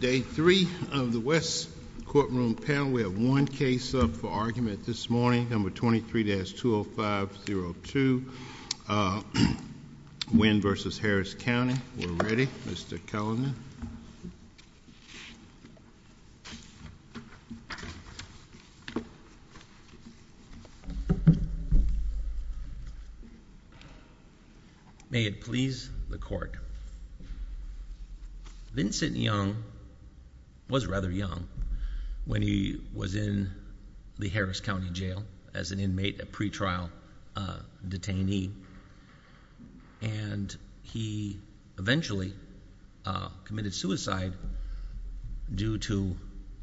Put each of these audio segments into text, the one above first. Day three of the West's courtroom panel, we have one case up for argument this morning, number 23-20502, Wynn v. Harris County. We're ready. Mr. Kellerman. May it please the court. Your Honor, Vincent Young was rather young when he was in the Harris County Jail as an inmate, a pretrial detainee. And he eventually committed suicide due to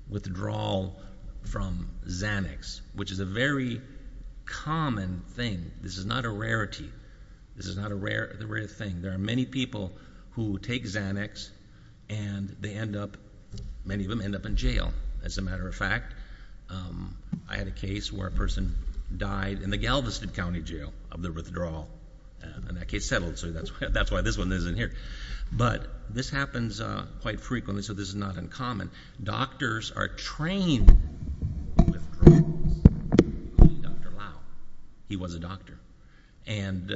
withdrawal from Xanax, which is a very common thing. This is not a rarity. This is not a rare thing. There are many people who take Xanax and they end up, many of them end up in jail. As a matter of fact, I had a case where a person died in the Galveston County Jail of the withdrawal. And that case settled, so that's why this one isn't here. But this happens quite frequently, so this is not uncommon. Doctors are trained to withdrawals. Dr. Lau, he was a doctor. And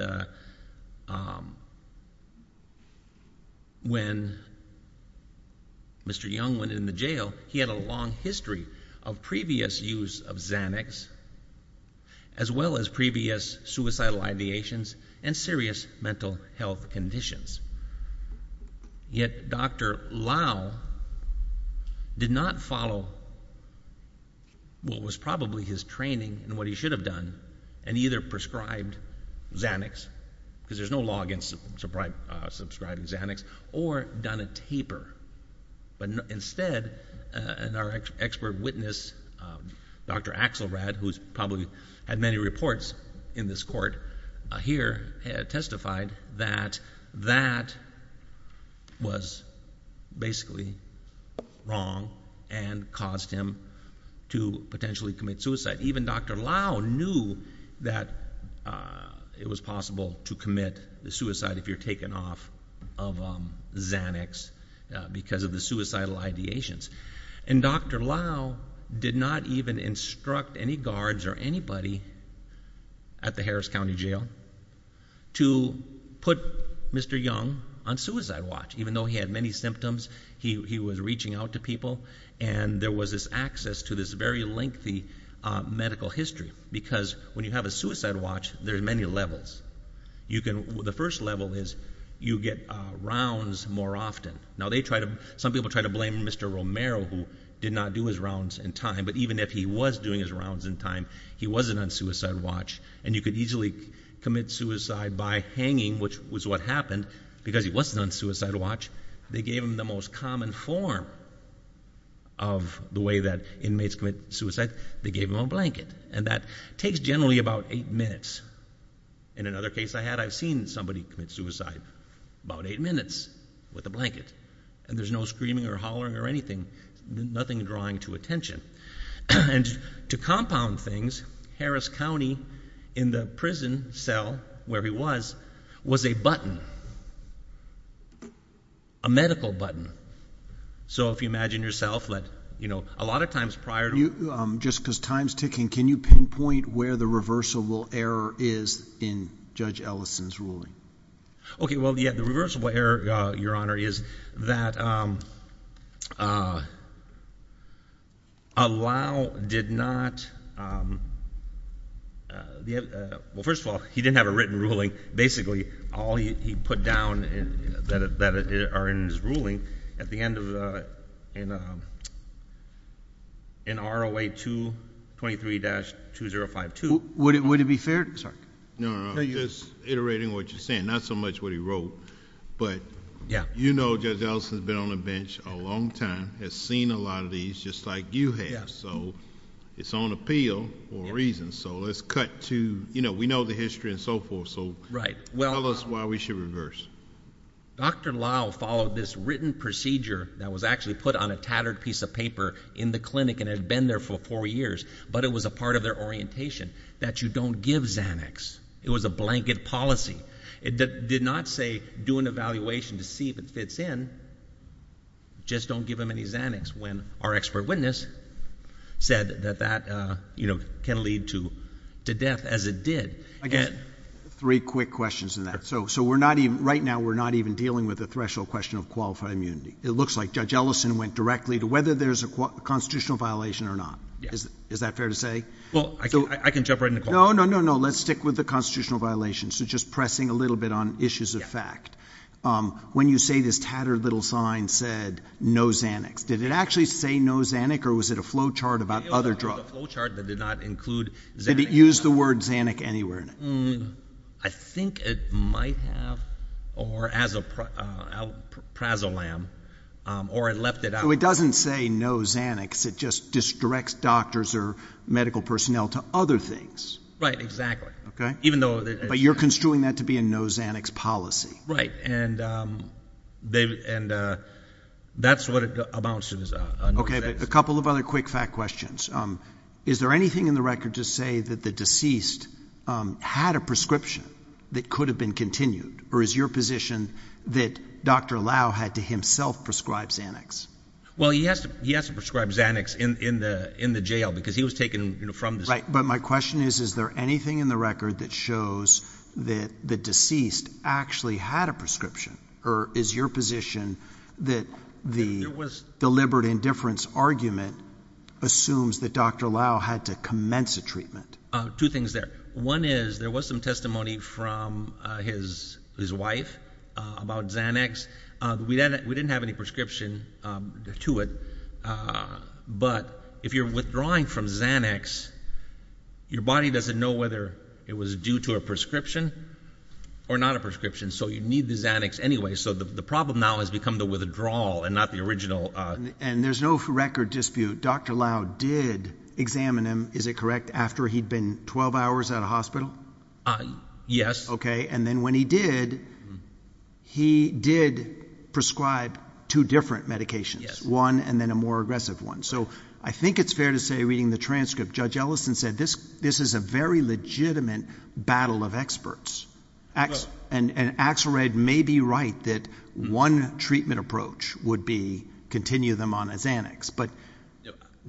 when Mr. Young went in the jail, he had a long history of previous use of Xanax, as well as previous suicidal ideations and serious mental health conditions. Yet Dr. Lau did not follow what was probably his training and what he should have done and either prescribed Xanax, because there's no law against prescribing Xanax, or done a taper. But instead, our expert witness, Dr. Axelrad, who's probably had many reports in this court here, testified that that was basically wrong and caused him to potentially commit suicide. Even Dr. Lau knew that it was possible to commit the suicide if you're taken off of Xanax because of the suicidal ideations. And Dr. Lau did not even instruct any guards or anybody at the Harris County Jail to put Mr. Young on suicide watch, even though he had many symptoms. He was reaching out to people, and there was this access to this very lengthy medical history. Because when you have a suicide watch, there's many levels. The first level is you get rounds more often. Now, some people try to blame Mr. Romero, who did not do his rounds in time. But even if he was doing his rounds in time, he wasn't on suicide watch. And you could easily commit suicide by hanging, which was what happened, because he wasn't on suicide watch. They gave him the most common form of the way that inmates commit suicide. They gave him a blanket. And that takes generally about eight minutes. In another case I had, I've seen somebody commit suicide about eight minutes with a blanket. And there's no screaming or hollering or anything, nothing drawing to attention. And to compound things, Harris County, in the prison cell where he was, was a button, a medical button. So if you imagine yourself, a lot of times prior to him. Just because time's ticking, can you pinpoint where the reversible error is in Judge Ellison's ruling? OK, well, the reversible error, Your Honor, is that Allow did not, well, first of all, he didn't have a written ruling. Basically, all he put down that are in his ruling, at the end of an ROA 223-2052. Would it be fair? No, no, no, just iterating what you're saying. Not so much what he wrote. But you know Judge Ellison's been on the bench a long time, has seen a lot of these, just like you have. So it's on appeal for a reason. So let's cut to, you know, we know the history and so forth. So tell us why we should reverse. Dr. Allow followed this written procedure that was actually put on a tattered piece of paper in the clinic and had been there for four years. But it was a part of their orientation that you don't give Xanax. It was a blanket policy. It did not say, do an evaluation to see if it fits in. Just don't give him any Xanax. When our expert witness said that that can lead to death as it did. I guess three quick questions in that. So we're not even, right now we're not even dealing with the threshold question of qualified immunity. It looks like Judge Ellison went directly to whether there's a constitutional violation or not. Is that fair to say? Well, I can jump right in the call. No, no, no, no. Let's stick with the constitutional violation. So just pressing a little bit on issues of fact. When you say this tattered little sign said no Xanax, did it actually say no Xanax or was it a flow chart about other drugs? It was a flow chart that did not include Xanax. Did it use the word Xanax anywhere in it? I think it might have, or as a prasolam, or it left it out. So it doesn't say no Xanax. It just directs doctors or medical personnel to other things. Right, exactly. Even though it's. But you're construing that to be a no Xanax policy. Right, and that's what it amounts to, is a no Xanax. OK, a couple of other quick fact questions. Is there anything in the record to say that the deceased had a prescription that could have been continued? Or is your position that Dr. Lau had to himself prescribe Xanax? Well, he has to prescribe Xanax in the jail because he was taken from the state. But my question is, is there anything in the record that shows that the deceased actually had a prescription? Or is your position that the deliberate indifference argument assumes that Dr. Lau had to commence a treatment? Two things there. One is, there was some testimony from his wife about Xanax. We didn't have any prescription to it. But if you're withdrawing from Xanax, your body doesn't know whether it was due to a prescription or not a prescription. And so you need the Xanax anyway. So the problem now has become the withdrawal and not the original. And there's no record dispute. Dr. Lau did examine him, is it correct, after he'd been 12 hours at a hospital? Yes. And then when he did, he did prescribe two different medications, one and then a more aggressive one. So I think it's fair to say, reading the transcript, Judge Ellison said, this is a very legitimate battle of experts. And Axelrod may be right that one treatment approach would be continue them on a Xanax. But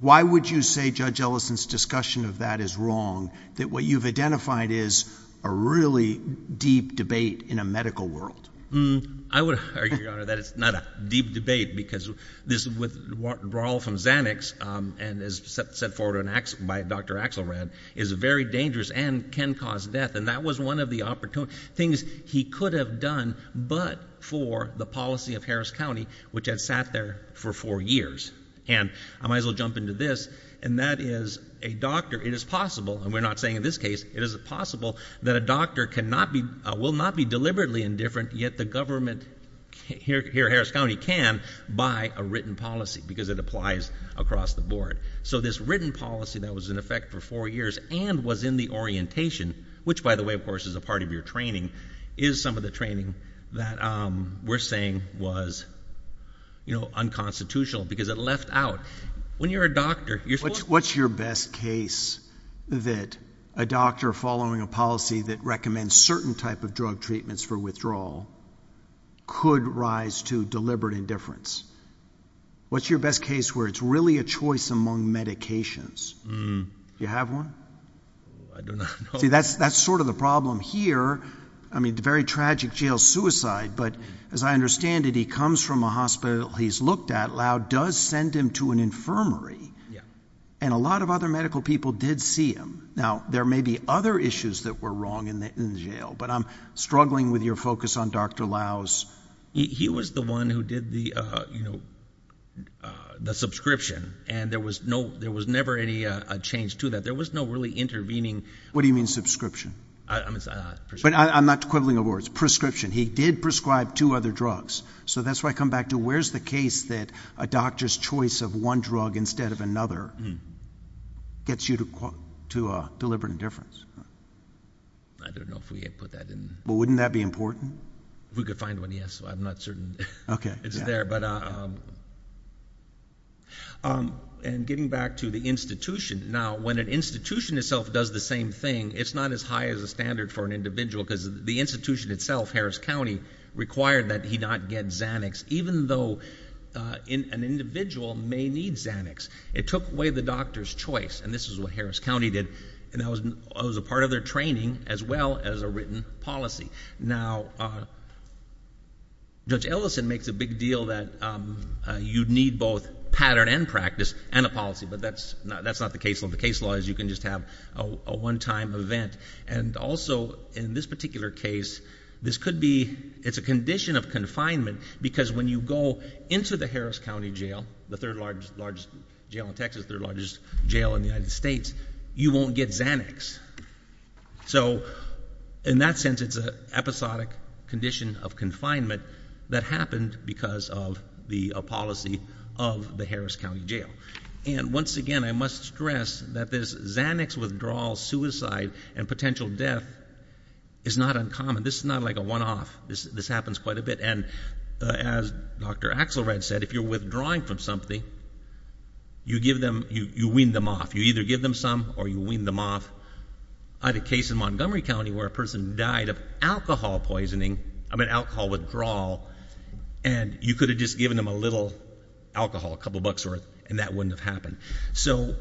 why would you say, Judge Ellison's discussion of that is wrong, that what you've identified is a really deep debate in a medical world? I would argue, Your Honor, that it's not a deep debate. Because this withdrawal from Xanax, and as set forward by Dr. Axelrod, is very dangerous and can cause death. And that was one of the things he could have done but for the policy of Harris County, which had sat there for four years. And I might as well jump into this. And that is, it is possible, and we're not saying in this case, it is possible, that a doctor will not be deliberately indifferent, yet the government here, Harris County, can buy a written policy, because it applies across the board. So this written policy that was in effect for four years and was in the orientation, which, by the way, of course, is a part of your training, is some of the training that we're saying was unconstitutional. Because it left out, when you're a doctor, you're supposed to. What's your best case that a doctor following a policy that recommends certain type of drug treatments for withdrawal could rise to deliberate indifference? What's your best case where it's really a choice among medications? Do you have one? I do not know. See, that's sort of the problem here. I mean, the very tragic jail suicide. But as I understand it, he comes from a hospital he's looked at. Lau does send him to an infirmary. And a lot of other medical people did see him. Now, there may be other issues that were wrong in the jail. But I'm struggling with your focus on Dr. Lau's. He was the one who did the subscription. And there was never any change to that. There was no really intervening. What do you mean, subscription? But I'm not equivalent of words. He did prescribe two other drugs. So that's where I come back to, where's the case that a doctor's choice of one drug instead of another gets you to deliberate indifference? I don't know if we had put that in. Well, wouldn't that be important? We could find one, yes. I'm not certain it's there. But getting back to the institution, now, when an institution itself does the same thing, it's not as high as a standard for an individual. Because the institution itself, Harris County, required that he not get Xanax, even though an individual may need Xanax. It took away the doctor's choice. And this is what Harris County did. And that was a part of their training, as well as a written policy. Now, Judge Ellison makes a big deal that you'd need both pattern and practice and a policy. But that's not the case. The case law is you can just have a one-time event. And also, in this particular case, this could be a condition of confinement. Because when you go into the Harris County jail, the third largest jail in Texas, third largest jail in the United States, you won't get Xanax. So in that sense, it's an episodic condition of confinement that happened because of the policy of the Harris County jail. And once again, I must stress that this Xanax withdrawal suicide and potential death is not uncommon. This is not like a one-off. This happens quite a bit. And as Dr. Axelrod said, if you're withdrawing from something, you wean them off. You either give them some or you wean them off. I had a case in Montgomery County where a person died of alcohol poisoning, I mean, alcohol withdrawal. And you could have just given them a little alcohol, a couple bucks worth, and that wouldn't have happened. So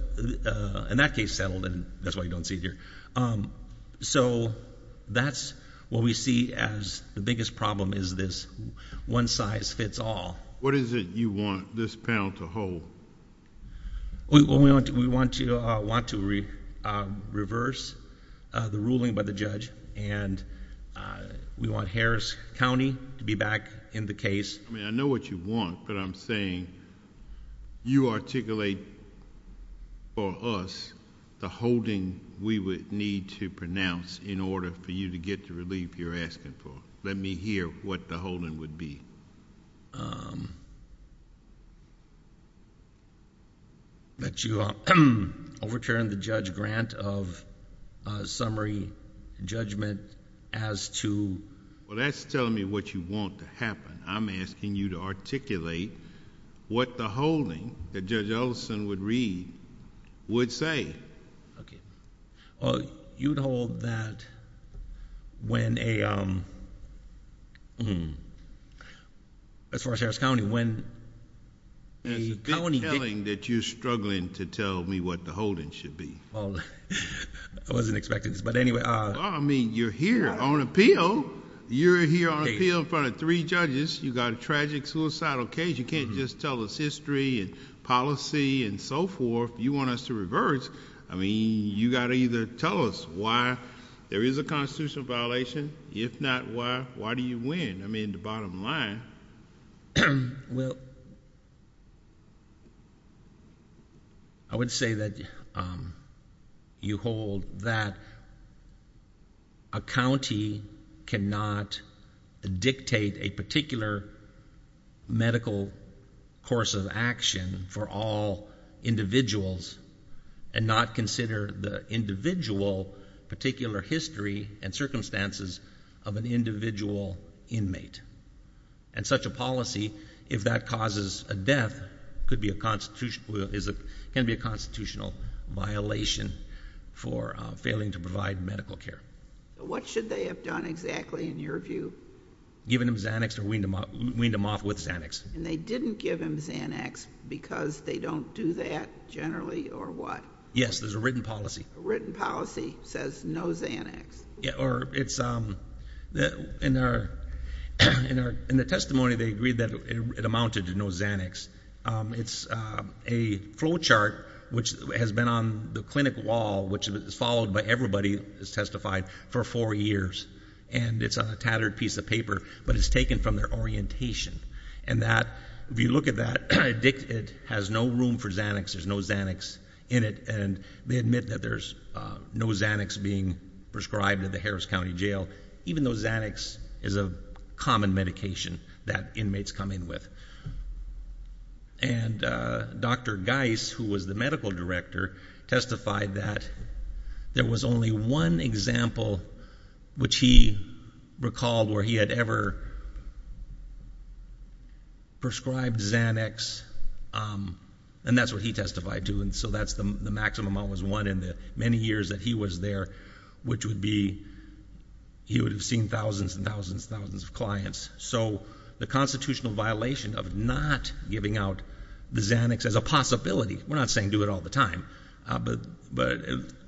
in that case, settled. And that's why you don't see it here. So that's what we see as the biggest problem is this one-size-fits-all. What is it you want this panel to hold? Well, we want to reverse the ruling by the judge. And we want Harris County to be back in the case. I mean, I know what you want. But I'm saying you articulate for us the holding we would need to pronounce in order for you to get the relief you're asking for. Let me hear what the holding would be. That you overturn the judge grant of summary judgment as to? Well, that's telling me what you want to happen. I'm asking you to articulate what the holding that Judge Ellison would read would say. Well, you'd hold that when a, as far as Harris County, when a county did. It's compelling that you're struggling to tell me what the holding should be. I wasn't expecting this. But anyway. Well, I mean, you're here on appeal. You're here on appeal in front of three judges. You've got a tragic suicidal case. You can't just tell us history and policy and so forth. You want us to reverse. I mean, you've got to either tell us why there is a constitutional violation. If not, why? Why do you win? I mean, the bottom line. Well, I would say that you hold that a county cannot dictate a particular medical course of action for all individuals and not consider the individual particular history and circumstances of an individual inmate. And such a policy, if that causes a death, could be a constitutional violation for failing to provide medical care. What should they have done exactly in your view? Given them Xanax or weaned them off with Xanax. And they didn't give them Xanax because they don't do that generally or what? Yes, there's a written policy. Written policy says no Xanax. Or it's in the testimony, they agreed that it amounted to no Xanax. It's a flow chart, which has been on the clinic wall, which is followed by everybody, has testified for four years. And it's on a tattered piece of paper, but it's taken from their orientation. And if you look at that, it has no room for Xanax. There's no Xanax in it. And they admit that there's no Xanax being prescribed at the Harris County Jail, even though Xanax is a common medication that inmates come in with. And Dr. Geis, who was the medical director, testified that there was only one example, which he recalled where he had ever prescribed Xanax. And that's what he testified to. And so that's the maximum amount was one in the many years that he was there, which would be, he would have seen thousands and thousands of clients. So the constitutional violation of not giving out the Xanax as a possibility, we're not saying do it all the time, but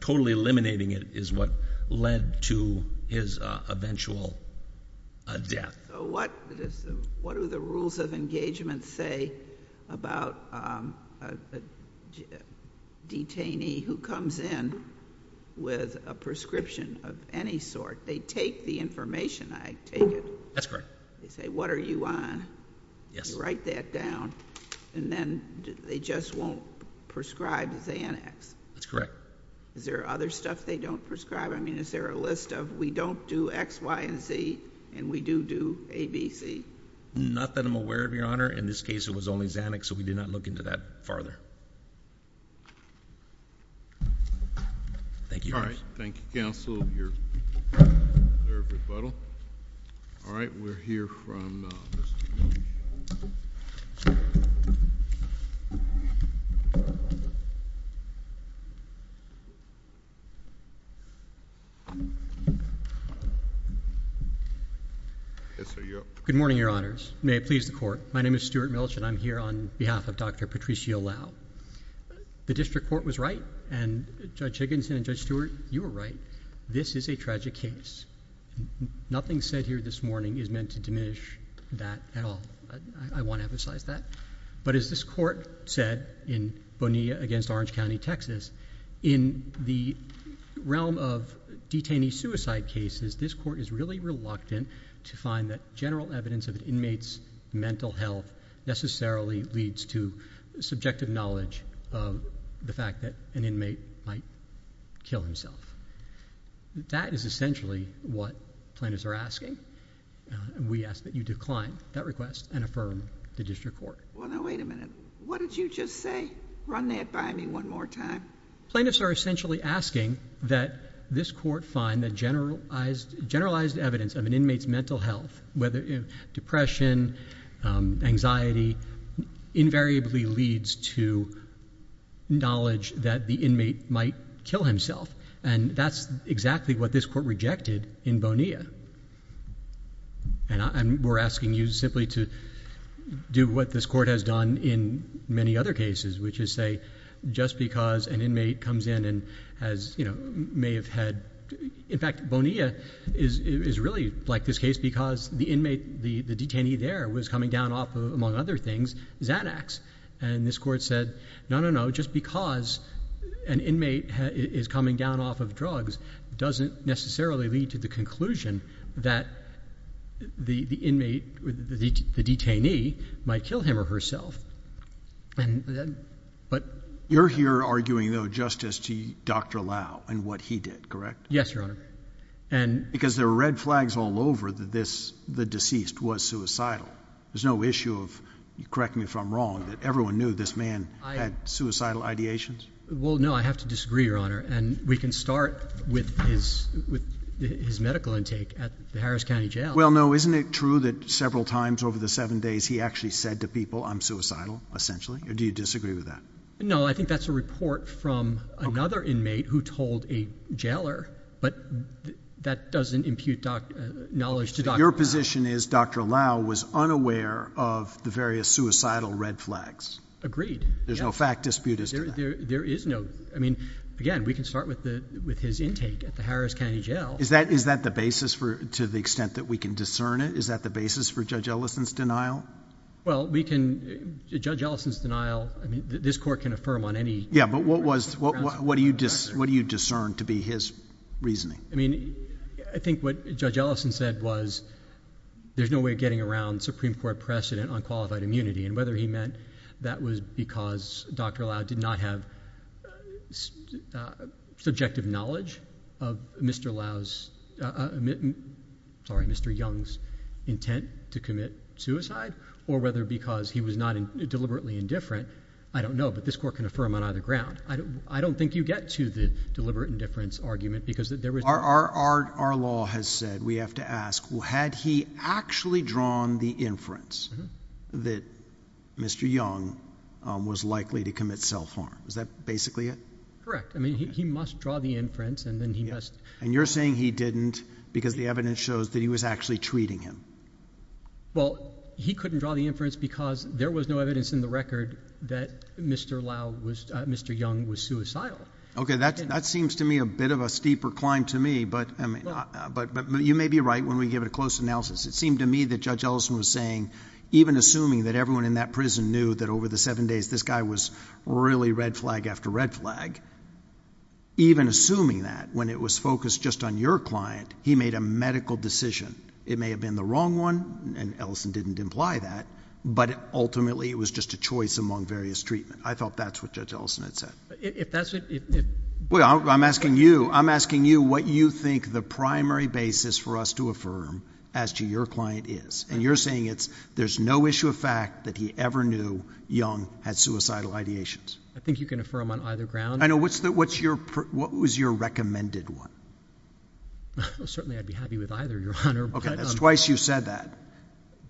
totally eliminating it is what led to his eventual death. So what do the rules of engagement say about a detainee who comes in with a prescription of any sort? They take the information, I take it. That's correct. They say, what are you on? You write that down. And then they just won't prescribe Xanax. That's correct. Is there other stuff they don't prescribe? I mean, is there a list of we don't do X, Y, and Z, and we do do A, B, C? Not that I'm aware of, Your Honor. In this case, it was only Xanax, so we did not look into that farther. Thank you. All right. Thank you, counsel. Your third rebuttal. All right, we're here from Mr. E. Good morning, Your Honors. May it please the court. My name is Stuart Milch, and I'm here on behalf of Dr. Patricia Lau. The district court was right, and Judge Higginson and Judge Stewart, you were right. This is a tragic case. Nothing said here this morning is meant to diminish that at all. I want to emphasize that. But as this court said in Bonilla against Orange County, Texas, in the realm of detainee suicide cases, this court is really reluctant to find that general evidence of an inmate's mental health necessarily leads to subjective knowledge of the fact that an inmate might kill himself. That is essentially what plaintiffs are asking. We ask that you decline that request and affirm the district court. Well, now, wait a minute. What did you just say? Run that by me one more time. Plaintiffs are essentially asking that this court find that generalized evidence of an inmate's mental health, whether depression, anxiety, invariably leads to knowledge that the inmate might kill himself. And that's exactly what this court rejected in Bonilla. And we're asking you simply to do what this court has done in many other cases, which is say, just because an inmate comes in and may have had, in fact, Bonilla is really like this case because the inmate, the detainee there, was coming down off of, among other things, Xanax. And this court said, no, no, no. Just because an inmate is coming down off of drugs doesn't necessarily lead to the conclusion that the inmate, the detainee, might kill him or herself. And then, but. You're here arguing, though, Justice, to Dr. Lau and what he did, correct? Yes, Your Honor. And. Because there are red flags all over that this, the deceased, was suicidal. There's no issue of, correct me if I'm wrong, that everyone knew this man had suicidal ideations? Well, no. I have to disagree, Your Honor. And we can start with his medical intake at the Harris County Jail. Well, no. Isn't it true that several times over the seven days he actually said to people, I'm suicidal, essentially? Or do you disagree with that? No, I think that's a report from another inmate who told a jailer. But that doesn't impute knowledge to Dr. Lau. Your position is Dr. Lau was unaware of the various suicidal red flags. Agreed. There's no fact dispute as to that. There is no. I mean, again, we can start with his intake at the Harris County Jail. Is that the basis for, to the extent that we can discern it? Is that the basis for Judge Ellison's denial? Well, Judge Ellison's denial, this court can affirm on any. Yeah, but what do you discern to be his reasoning? I mean, I think what Judge Ellison said was there's no way of getting around Supreme Court precedent on qualified immunity. And whether he meant that was because Dr. Lau did not have subjective knowledge of Mr. Young's intent to commit suicide, or whether because he was not deliberately indifferent, I don't know. But this court can affirm on either ground. I don't think you get to the deliberate indifference argument, because there was no. Our law has said we have to ask, had he actually drawn the inference that Mr. Young was likely to commit self-harm? Is that basically it? I mean, he must draw the inference, and then he must. And you're saying he didn't, because the evidence shows that he was actually treating him. Well, he couldn't draw the inference because there was no evidence in the record that Mr. Young was suicidal. OK, that seems to me a bit of a steeper climb to me. But you may be right when we give it a close analysis. It seemed to me that Judge Ellison was saying, even assuming that everyone in that prison knew that over the seven days, this guy was really red flag after red flag, even assuming that when it was focused just on your client, he made a medical decision. It may have been the wrong one, and Ellison didn't imply that. But ultimately, it was just a choice among various treatment. I thought that's what Judge Ellison had said. If that's what you think. Well, I'm asking you. I'm asking you what you think the primary basis for us to affirm as to your client is. And you're saying there's no issue of fact that he ever knew Young had suicidal ideations. I think you can affirm on either ground. I know. What was your recommended one? Well, certainly I'd be happy with either, Your Honor. OK, that's twice you said that.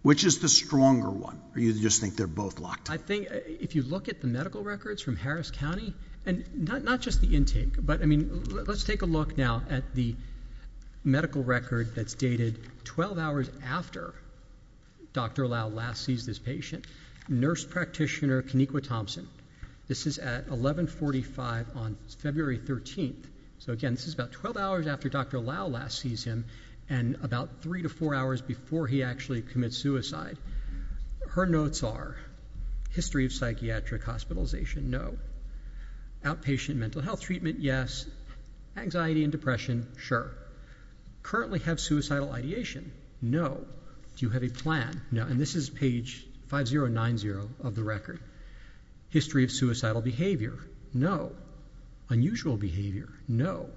Which is the stronger one, or you just think they're both locked? I think if you look at the medical records from Harris County, and not just the intake, but I mean, let's take a look now at the medical record that's dated 12 hours after Dr. Lau last sees this patient. Nurse practitioner, Kennequa Thompson. This is at 11.45 on February 13. So again, this is about 12 hours after Dr. Lau last sees him, and about three to four hours before he actually commits suicide. Her notes are, history of psychiatric hospitalization, no. Outpatient mental health treatment, yes. Anxiety and depression, sure. Currently have suicidal ideation, no. Do you have a plan, no. And this is page 5090 of the record. History of suicidal behavior, no. Unusual behavior, no.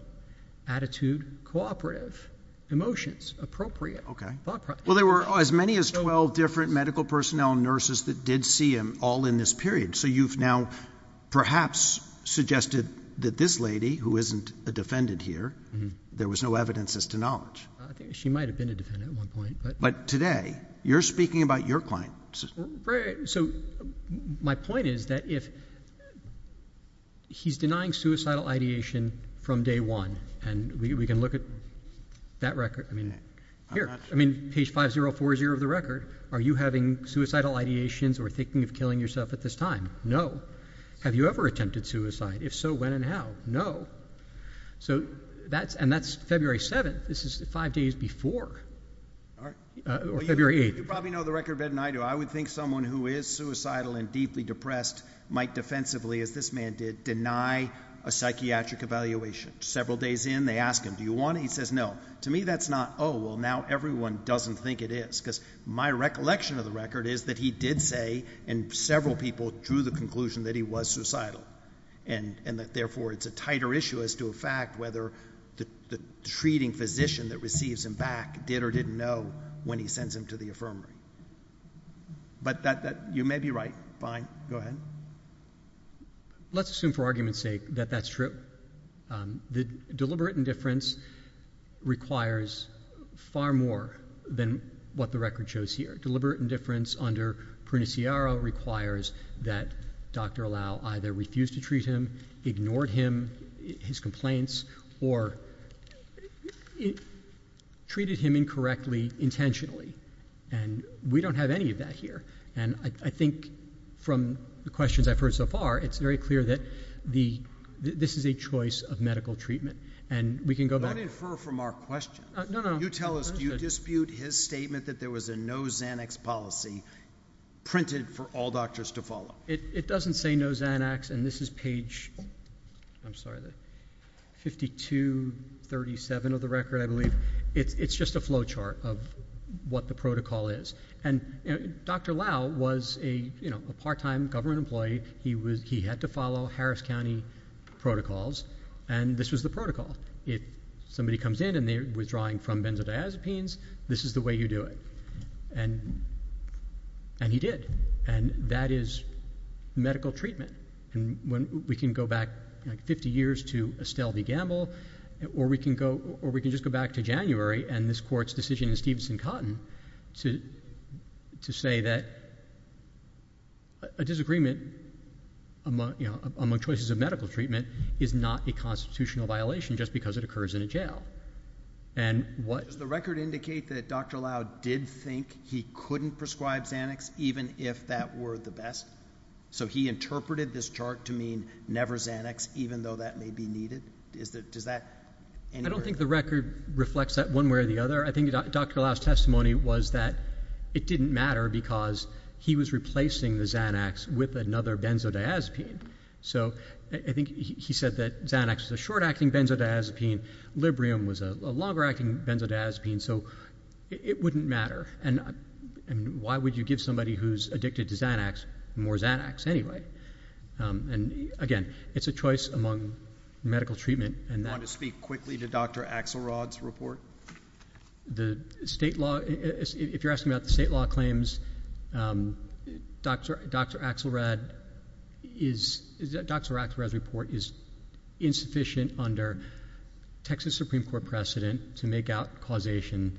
Attitude, cooperative. Emotions, appropriate. OK. Well, there were as many as 12 different medical personnel nurses that did see him all in this period. So you've now perhaps suggested that this lady, who isn't a defendant here, there was no evidence as to knowledge. She might have been a defendant at one point. But today, you're speaking about your client. So my point is that if he's denying suicidal ideation from day one, and we can look at that record. I mean, here. I mean, page 5040 of the record. Are you having suicidal ideations or thinking of killing yourself at this time? No. Have you ever attempted suicide? If so, when and how? No. So that's February 7th. This is five days before, or February 8th. You probably know the record better than I do. I would think someone who is suicidal and deeply depressed might defensively, as this man did, deny a psychiatric evaluation. Several days in, they ask him, do you want it? He says, no. To me, that's not, oh, well, now everyone doesn't think it is. Because my recollection of the record is that he did say, and several people drew the conclusion, that he was suicidal. And that, therefore, it's a tighter issue as to a fact whether the treating physician that receives him back did or didn't know when he sends him to the infirmary. But you may be right. Fine. Go ahead. Let's assume, for argument's sake, that that's true. The deliberate indifference requires far more than what the record shows here. Deliberate indifference under Pruniciaro requires that Dr. Lau either refuse to treat him, ignored him, his complaints, or treated him incorrectly intentionally. And we don't have any of that here. And I think from the questions I've heard so far, it's very clear that this is a choice of medical treatment. And we can go back. Don't infer from our question. No, no. You tell us, do you dispute his statement that there was a no Xanax policy printed for all doctors to follow? It doesn't say no Xanax. And this is page 5237 of the record, I believe. It's just a flow chart of what the protocol is. And Dr. Lau was a part-time government employee. He had to follow Harris County protocols. And this was the protocol. If somebody comes in and they're withdrawing from benzodiazepines, this is the way you do it. And he did. And that is medical treatment. And we can go back 50 years to Estelle v. Gamble, or we can just go back to January and this court's decision in Stevenson-Cotton to say that a disagreement among choices of medical treatment is not a constitutional violation just because it occurs in a jail. And what? Does the record indicate that Dr. Lau did think he couldn't prescribe Xanax, even if that were the best? So he interpreted this chart to mean never Xanax, even though that may be needed? Does that? I don't think the record reflects that one way or the other. I think Dr. Lau's testimony was that it didn't matter because he was replacing the Xanax with another benzodiazepine. So I think he said that Xanax is a short-acting benzodiazepine. Librium was a longer-acting benzodiazepine. So it wouldn't matter. And why would you give somebody who's addicted to Xanax more Xanax anyway? And again, it's a choice among medical treatment. And I want to speak quickly to Dr. Axelrod's report. If you're asking about the state law claims, Dr. Axelrod's report is insufficient under Texas Supreme Court precedent to make out causation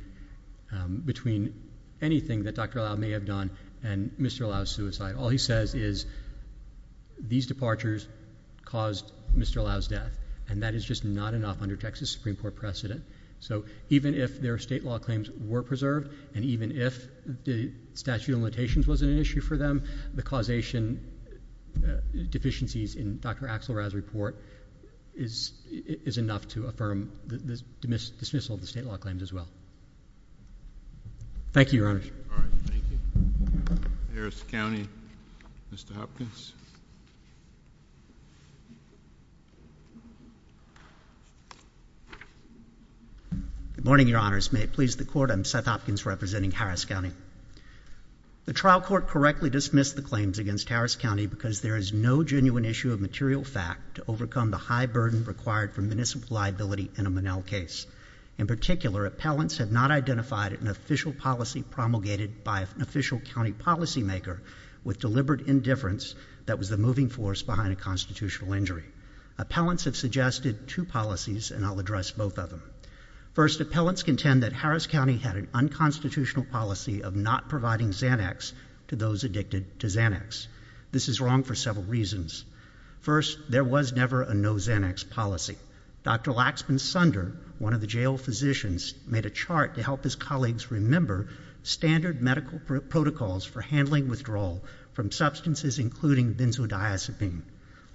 between anything that Dr. Lau may have done and Mr. Lau's suicide. All he says is these departures caused Mr. Lau's death. And that is just not enough under Texas Supreme Court precedent. So even if their state law claims were preserved, and even if the statute of limitations wasn't an issue for them, the causation deficiencies in Dr. Axelrod's report is enough to affirm the dismissal of the state law claims as well. Thank you, Your Honors. All right, thank you. Harris County, Mr. Hopkins. Good morning, Your Honors. May it please the Court. I'm Seth Hopkins representing Harris County. The trial court correctly dismissed the claims against Harris County because there is no genuine issue of material fact to overcome the high burden required for municipal liability in a Monell case. In particular, appellants have not identified an official policy promulgated by an official county policymaker with deliberate indifference that was the moving force behind a constitutional injury. Appellants have suggested two policies, and I'll address both of them. First, appellants contend that Harris County had an unconstitutional policy of not providing Xanax to those addicted to Xanax. This is wrong for several reasons. First, there was never a no Xanax policy. Dr. Laxman Sunder, one of the jail physicians, made a chart to help his colleagues remember standard medical protocols for handling withdrawal from substances including benzodiazepine.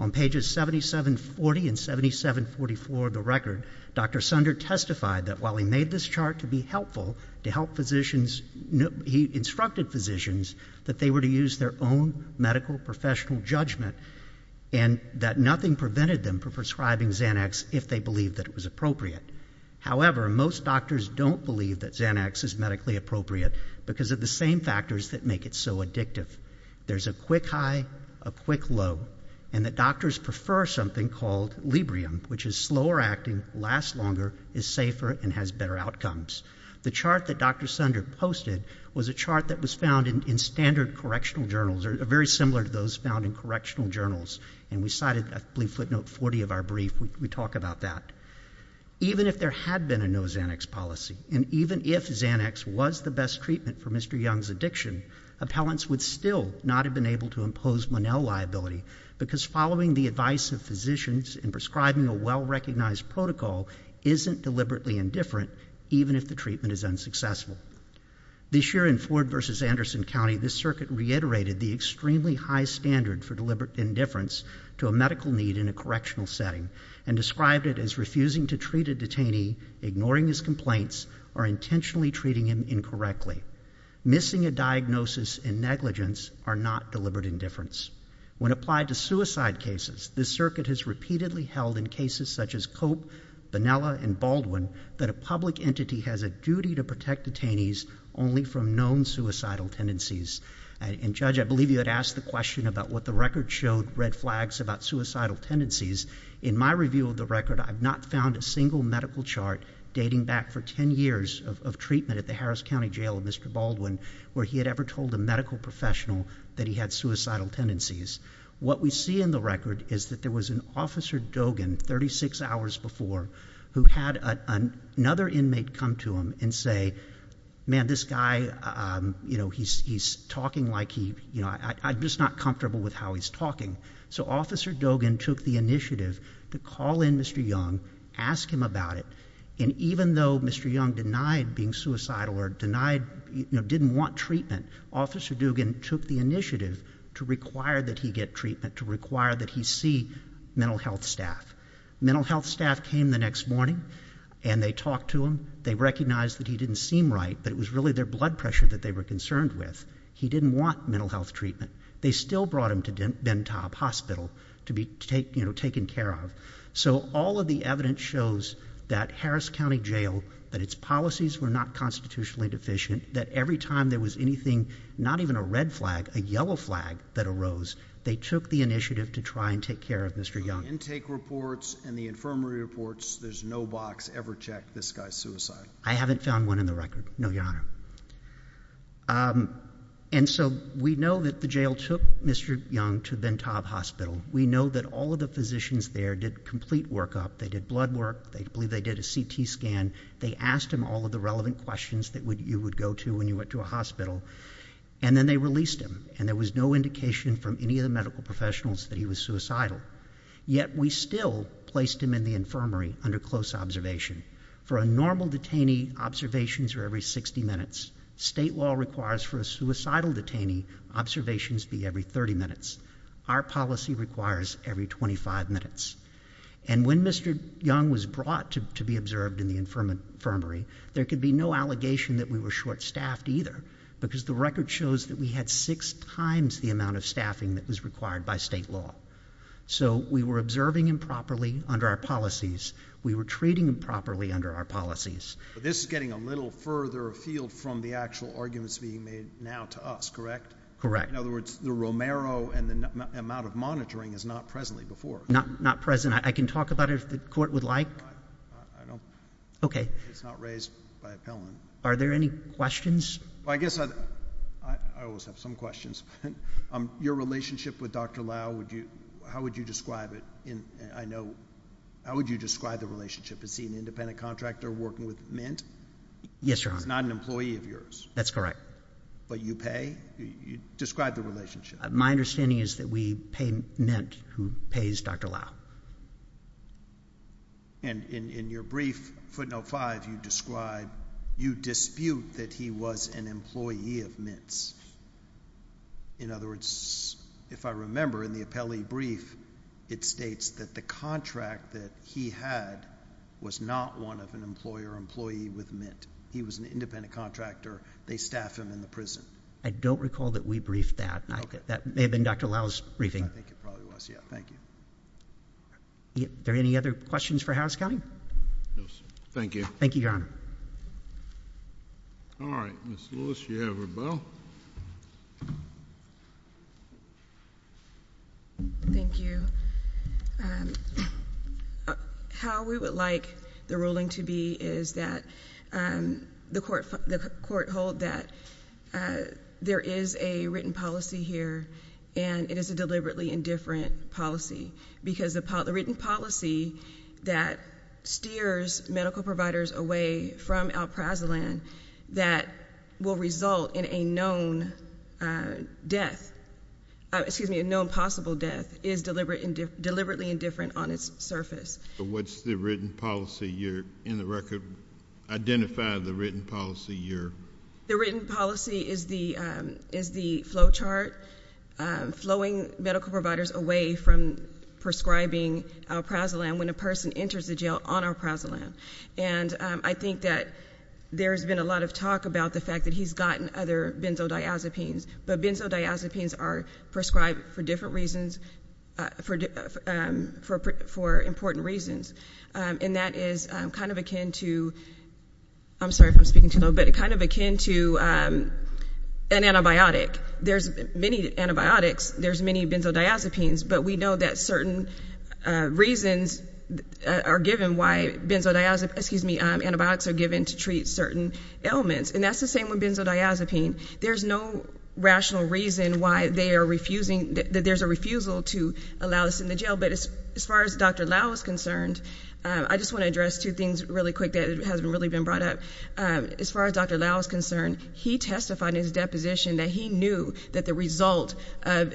On pages 7740 and 7744 of the record, Dr. Sunder testified that while he made this chart to be helpful, to help physicians, he instructed physicians that they were to use their own medical professional judgment and that nothing prevented them from prescribing Xanax if they believed that it was appropriate. However, most doctors don't believe that Xanax is medically appropriate because of the same factors that make it so addictive. There's a quick high, a quick low, and the doctors prefer something called Librium, which is slower acting, lasts longer, is safer, and has better outcomes. The chart that Dr. Sunder posted was a chart that was found in standard correctional journals, or very similar to those found in correctional journals, and we cited, I believe, footnote 40 of our brief when we talk about that. Even if there had been a no Xanax policy, and even if Xanax was the best treatment for Mr. Young's addiction, appellants would still not have been able to impose Monell liability because following the advice of physicians and prescribing a well-recognized protocol isn't deliberately indifferent, even if the treatment is unsuccessful. This year in Ford versus Anderson County, this circuit reiterated the extremely high standard for deliberate indifference to a medical need in a correctional setting, and described it as refusing to treat a detainee, ignoring his complaints, or intentionally treating him incorrectly. Missing a diagnosis in negligence are not deliberate indifference. When applied to suicide cases, this circuit has repeatedly held in cases such as Cope, Bonella, and Baldwin that a public entity has a duty to protect detainees only from known suicidal tendencies. And Judge, I believe you had asked the question about what the record showed red flags about suicidal tendencies. In my review of the record, I've not found a single medical chart dating back for 10 years of treatment at the Harris County Jail of Mr. Baldwin where he had ever told a medical professional that he had suicidal tendencies. What we see in the record is that there was an Officer Dogen, 36 hours before, who had another inmate come to him and say, man, this guy, he's talking like he, I'm just not comfortable with how he's talking. So Officer Dogen took the initiative to call in Mr. Young, ask him about it, and even though Mr. Young denied being suicidal or denied, didn't want treatment, Officer Dogen took the initiative to require that he get treatment, to require that he see mental health staff. Mental health staff came the next morning and they talked to him. They recognized that he didn't seem right, that it was really their blood pressure that they were concerned with. He didn't want mental health treatment. They still brought him to Bentop Hospital to be taken care of. So all of the evidence shows that Harris County Jail, that its policies were not constitutionally deficient, that every time there was anything, not even a red flag, a yellow flag that arose, they took the initiative to try and take care of Mr. Young. Intake reports and the infirmary reports, there's no box ever checked, this guy's suicidal. I haven't found one in the record, no, Your Honor. And so we know that the jail took Mr. Young to Bentop Hospital. We know that all of the physicians there did complete workup. They did blood work. They believe they did a CT scan. They asked him all of the relevant questions that you would go to when you went to a hospital and then they released him and there was no indication from any of the medical professionals that he was suicidal. Yet we still placed him in the infirmary under close observation. For a normal detainee, observations are every 60 minutes. State law requires for a suicidal detainee, observations be every 30 minutes. Our policy requires every 25 minutes. And when Mr. Young was brought to be observed in the infirmary, there could be no allegation that we were short-staffed either because the record shows that we had six times the amount of staffing that was required by state law. So we were observing improperly under our policies. We were treating improperly under our policies. But this is getting a little further afield from the actual arguments being made now to us, correct? Correct. In other words, the Romero and the amount of monitoring is not presently before. Not present. I can talk about it if the court would like. Okay. It's not raised by appellant. Are there any questions? I guess I always have some questions. Your relationship with Dr. Lau, how would you describe it? I know, how would you describe the relationship? Is he an independent contractor working with Mint? Yes, Your Honor. He's not an employee of yours. That's correct. But you pay? Describe the relationship. My understanding is that we pay Mint, who pays Dr. Lau. And in your brief, footnote five, you describe, you dispute that he was an employee of Mint's. In other words, if I remember in the appellee brief, it states that the contract that he had was not one of an employer employee with Mint. He was an independent contractor. They staffed him in the prison. I don't recall that we briefed that. That may have been Dr. Lau's briefing. I think it probably was, yeah. Thank you. Are there any other questions for Harris County? No, sir. Thank you. Thank you, Your Honor. All right, Ms. Lewis, you have her bow. Thank you. How we would like the ruling to be is that the court hold that there is a written policy here and it is a deliberately indifferent policy because the written policy that steers medical providers away from Alprazolan that will result in a known death, excuse me, a known possible death is deliberately indifferent on its surface. What's the written policy here in the record? Identify the written policy here. The written policy is the flowchart flowing medical providers away from prescribing Alprazolan when a person enters the jail on Alprazolan. And I think that there's been a lot of talk about the fact that he's gotten other benzodiazepines, but benzodiazepines are prescribed for different reasons, for important reasons. And that is kind of akin to, I'm sorry if I'm speaking too low, but kind of akin to an antibiotic. There's many antibiotics. There's many benzodiazepines, but we know that certain reasons are given why benzodiazepine, excuse me, antibiotics are given to treat certain ailments. And that's the same with benzodiazepine. There's no rational reason why they are refusing, that there's a refusal to allow this in the jail. But as far as Dr. Lau is concerned, I just wanna address two things really quick that hasn't really been brought up. As far as Dr. Lau is concerned, he testified in his deposition that he knew that the result of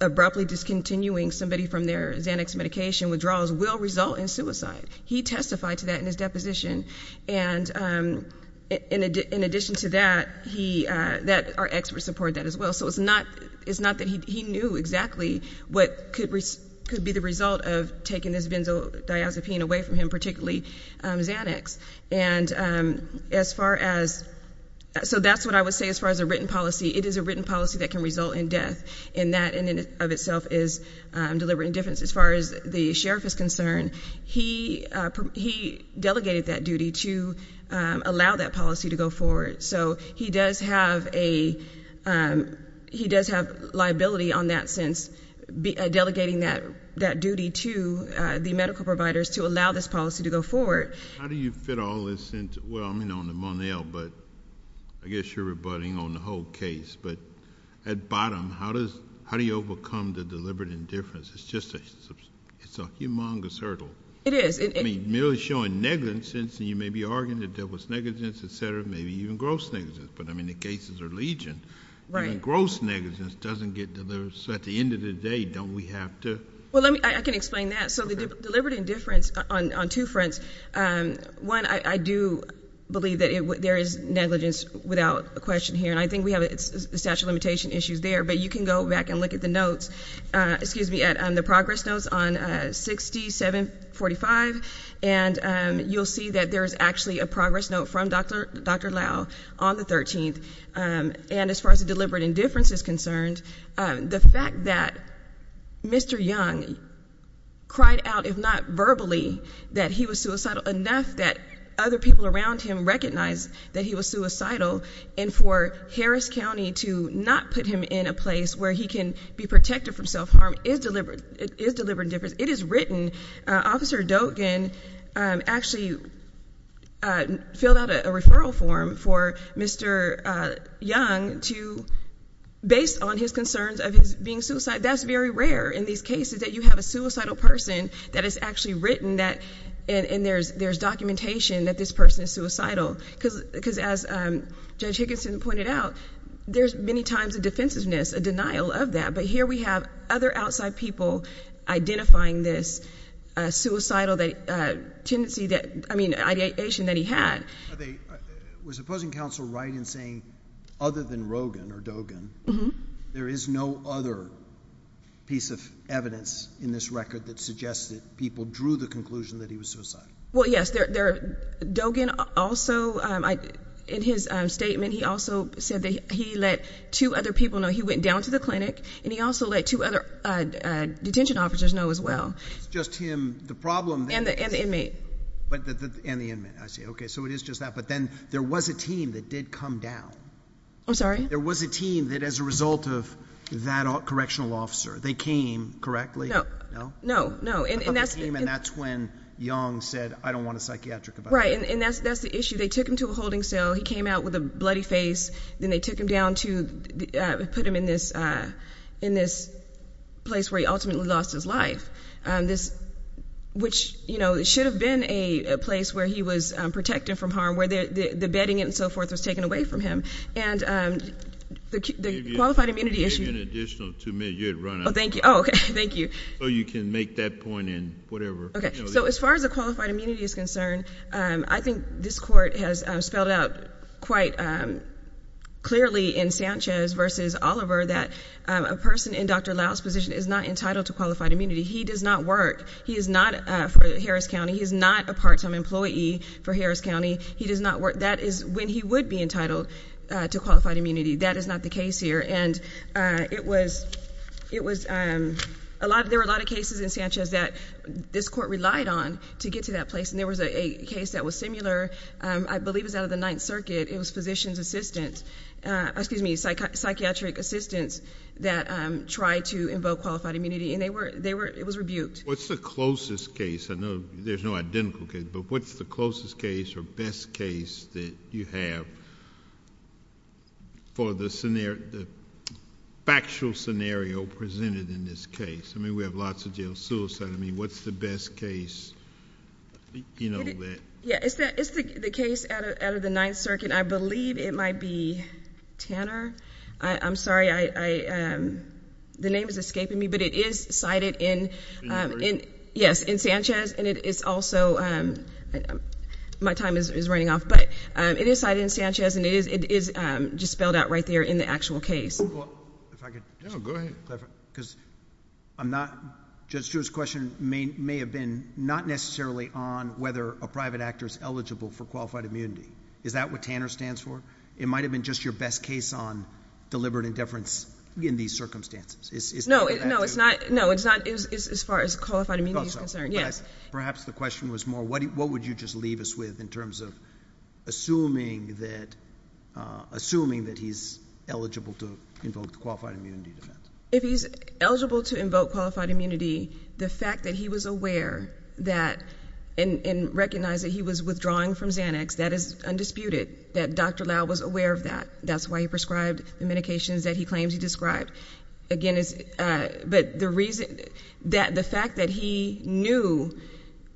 abruptly discontinuing somebody from their Xanax medication withdrawals will result in suicide. He testified to that in his deposition. And in addition to that, he, our experts support that as well. So it's not that he knew exactly what could be the result of taking this benzodiazepine away from him, particularly Xanax. And as far as, so that's what I would say it is a written policy that can result in death. And that in and of itself is deliberate indifference. As far as the sheriff is concerned, he delegated that duty to allow that policy to go forward. So he does have liability on that sense, delegating that duty to the medical providers to allow this policy to go forward. How do you fit all this into, well, I mean, on the Monell, but I guess you're rebutting on the whole case, but at bottom, how do you overcome the deliberate indifference? It's just, it's a humongous hurdle. It is. I mean, merely showing negligence, and you may be arguing that there was negligence, et cetera, maybe even gross negligence, but I mean, the cases are legion. Right. And gross negligence doesn't get delivered. So at the end of the day, don't we have to? Well, let me, I can explain that. So the deliberate indifference on two fronts. One, I do believe that there is negligence without question here, and I think we have statute of limitation issues there, but you can go back and look at the notes, excuse me, at the progress notes on 6745, and you'll see that there is actually a progress note from Dr. Lau on the 13th. And as far as the deliberate indifference is concerned, the fact that Mr. Young cried out, if not verbally, that he was suicidal, enough that other people around him recognized that he was suicidal, and for Harris County to not put him in a place where he can be protected from self-harm is deliberate indifference. It is written. Officer Dogan actually filled out a referral form for Mr. Young to, based on his concerns of his being suicidal. That's very rare in these cases that you have a suicidal person that is actually written that, and there's documentation that this person is suicidal. Because as Judge Higginson pointed out, there's many times a defensiveness, a denial of that, but here we have other outside people identifying this suicidal tendency that, I mean, ideation that he had. Was opposing counsel right in saying other than Rogan or Dogan, there is no other piece of evidence in this record that suggests that people drew the conclusion that he was suicidal? Well, yes, Dogan also, in his statement, he also said that he let two other people know. He went down to the clinic, and he also let two other detention officers know as well. It's just him. The problem. And the inmate. But, and the inmate, I see. Okay, so it is just that, but then there was a team that did come down. I'm sorry? There was a team that, as a result of that correctional officer, they came, correctly? No. No? No, no. And that's- And that's when Young said, I don't want a psychiatric about him. Right, and that's the issue. They took him to a holding cell. He came out with a bloody face. Then they took him down to, put him in this, in this place where he ultimately lost his life. This, which, you know, it should have been a place where he was protected from harm, where the bedding and so forth was taken away from him. And the qualified immunity issue- They gave you an additional two minutes. You had run out of time. Oh, thank you. Oh, okay, thank you. So you can make that point in whatever. Okay, so as far as the qualified immunity is concerned, I think this court has spelled out quite clearly in Sanchez versus Oliver that a person in Dr. Lau's position is not entitled to qualified immunity. He does not work. He is not for Harris County. He is not a part-time employee for Harris County. He does not work. That is when he would be entitled to qualified immunity. That is not the case here. And it was, it was a lot, there were a lot of cases in Sanchez that this court relied on to get to that place. And there was a case that was similar. I believe it was out of the Ninth Circuit. It was physician's assistants, excuse me, psychiatric assistants that tried to invoke qualified immunity. And they were, they were, it was rebuked. What's the closest case? I know there's no identical case, but what's the closest case or best case that you have for the scenario, the factual scenario presented in this case? I mean, we have lots of jail suicide. I mean, what's the best case? You know that. Yeah, it's the case out of the Ninth Circuit. I believe it might be Tanner. I'm sorry. I, the name is escaping me, but it is cited in, in, yes, in Sanchez. And it is also, my time is running off, but it is cited in Sanchez and it is just spelled out right there in the actual case. Well, if I could. No, go ahead. Because I'm not, Judge Stewart's question may have been not necessarily on whether a private actor is eligible for qualified immunity. Is that what Tanner stands for? It might've been just your best case on deliberate indifference in these circumstances. Is that what that is? No, no, it's not. No, it's not as far as qualified immunity is concerned. Yes. Perhaps the question was more, what would you just leave us with in terms of assuming that, assuming that he's eligible to invoke the qualified immunity defense? If he's eligible to invoke qualified immunity, the fact that he was aware that, and recognize that he was withdrawing from Xanax, that is undisputed, that Dr. Lau was aware of that. That's why he prescribed the medications that he claims he described. Again, it's, but the reason that the fact that he knew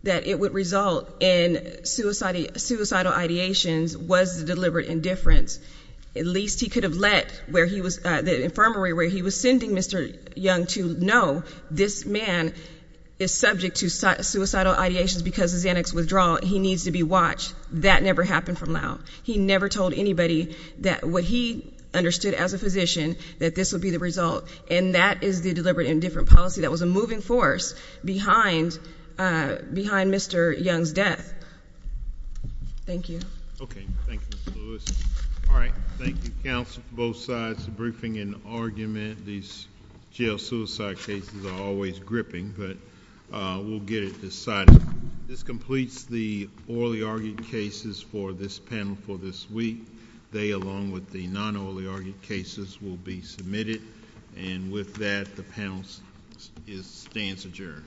that it would result in suicidal ideations was the deliberate indifference. At least he could have let where he was, the infirmary where he was sending Mr. Young to know this man is subject to suicidal ideations because of Xanax withdrawal. He needs to be watched. That never happened from Lau. He never told anybody that what he understood as a physician that this would be the result. And that is the deliberate indifference policy that was a moving force behind Mr. Young's death. Thank you. Okay, thank you, Ms. Lewis. All right, thank you, counsel, both sides, the briefing and argument. These jail suicide cases are always gripping, but we'll get it decided. This completes the orally argued cases for this panel for this week. They, along with the non-orally argued cases will be submitted. And with that, the panel stands adjourned.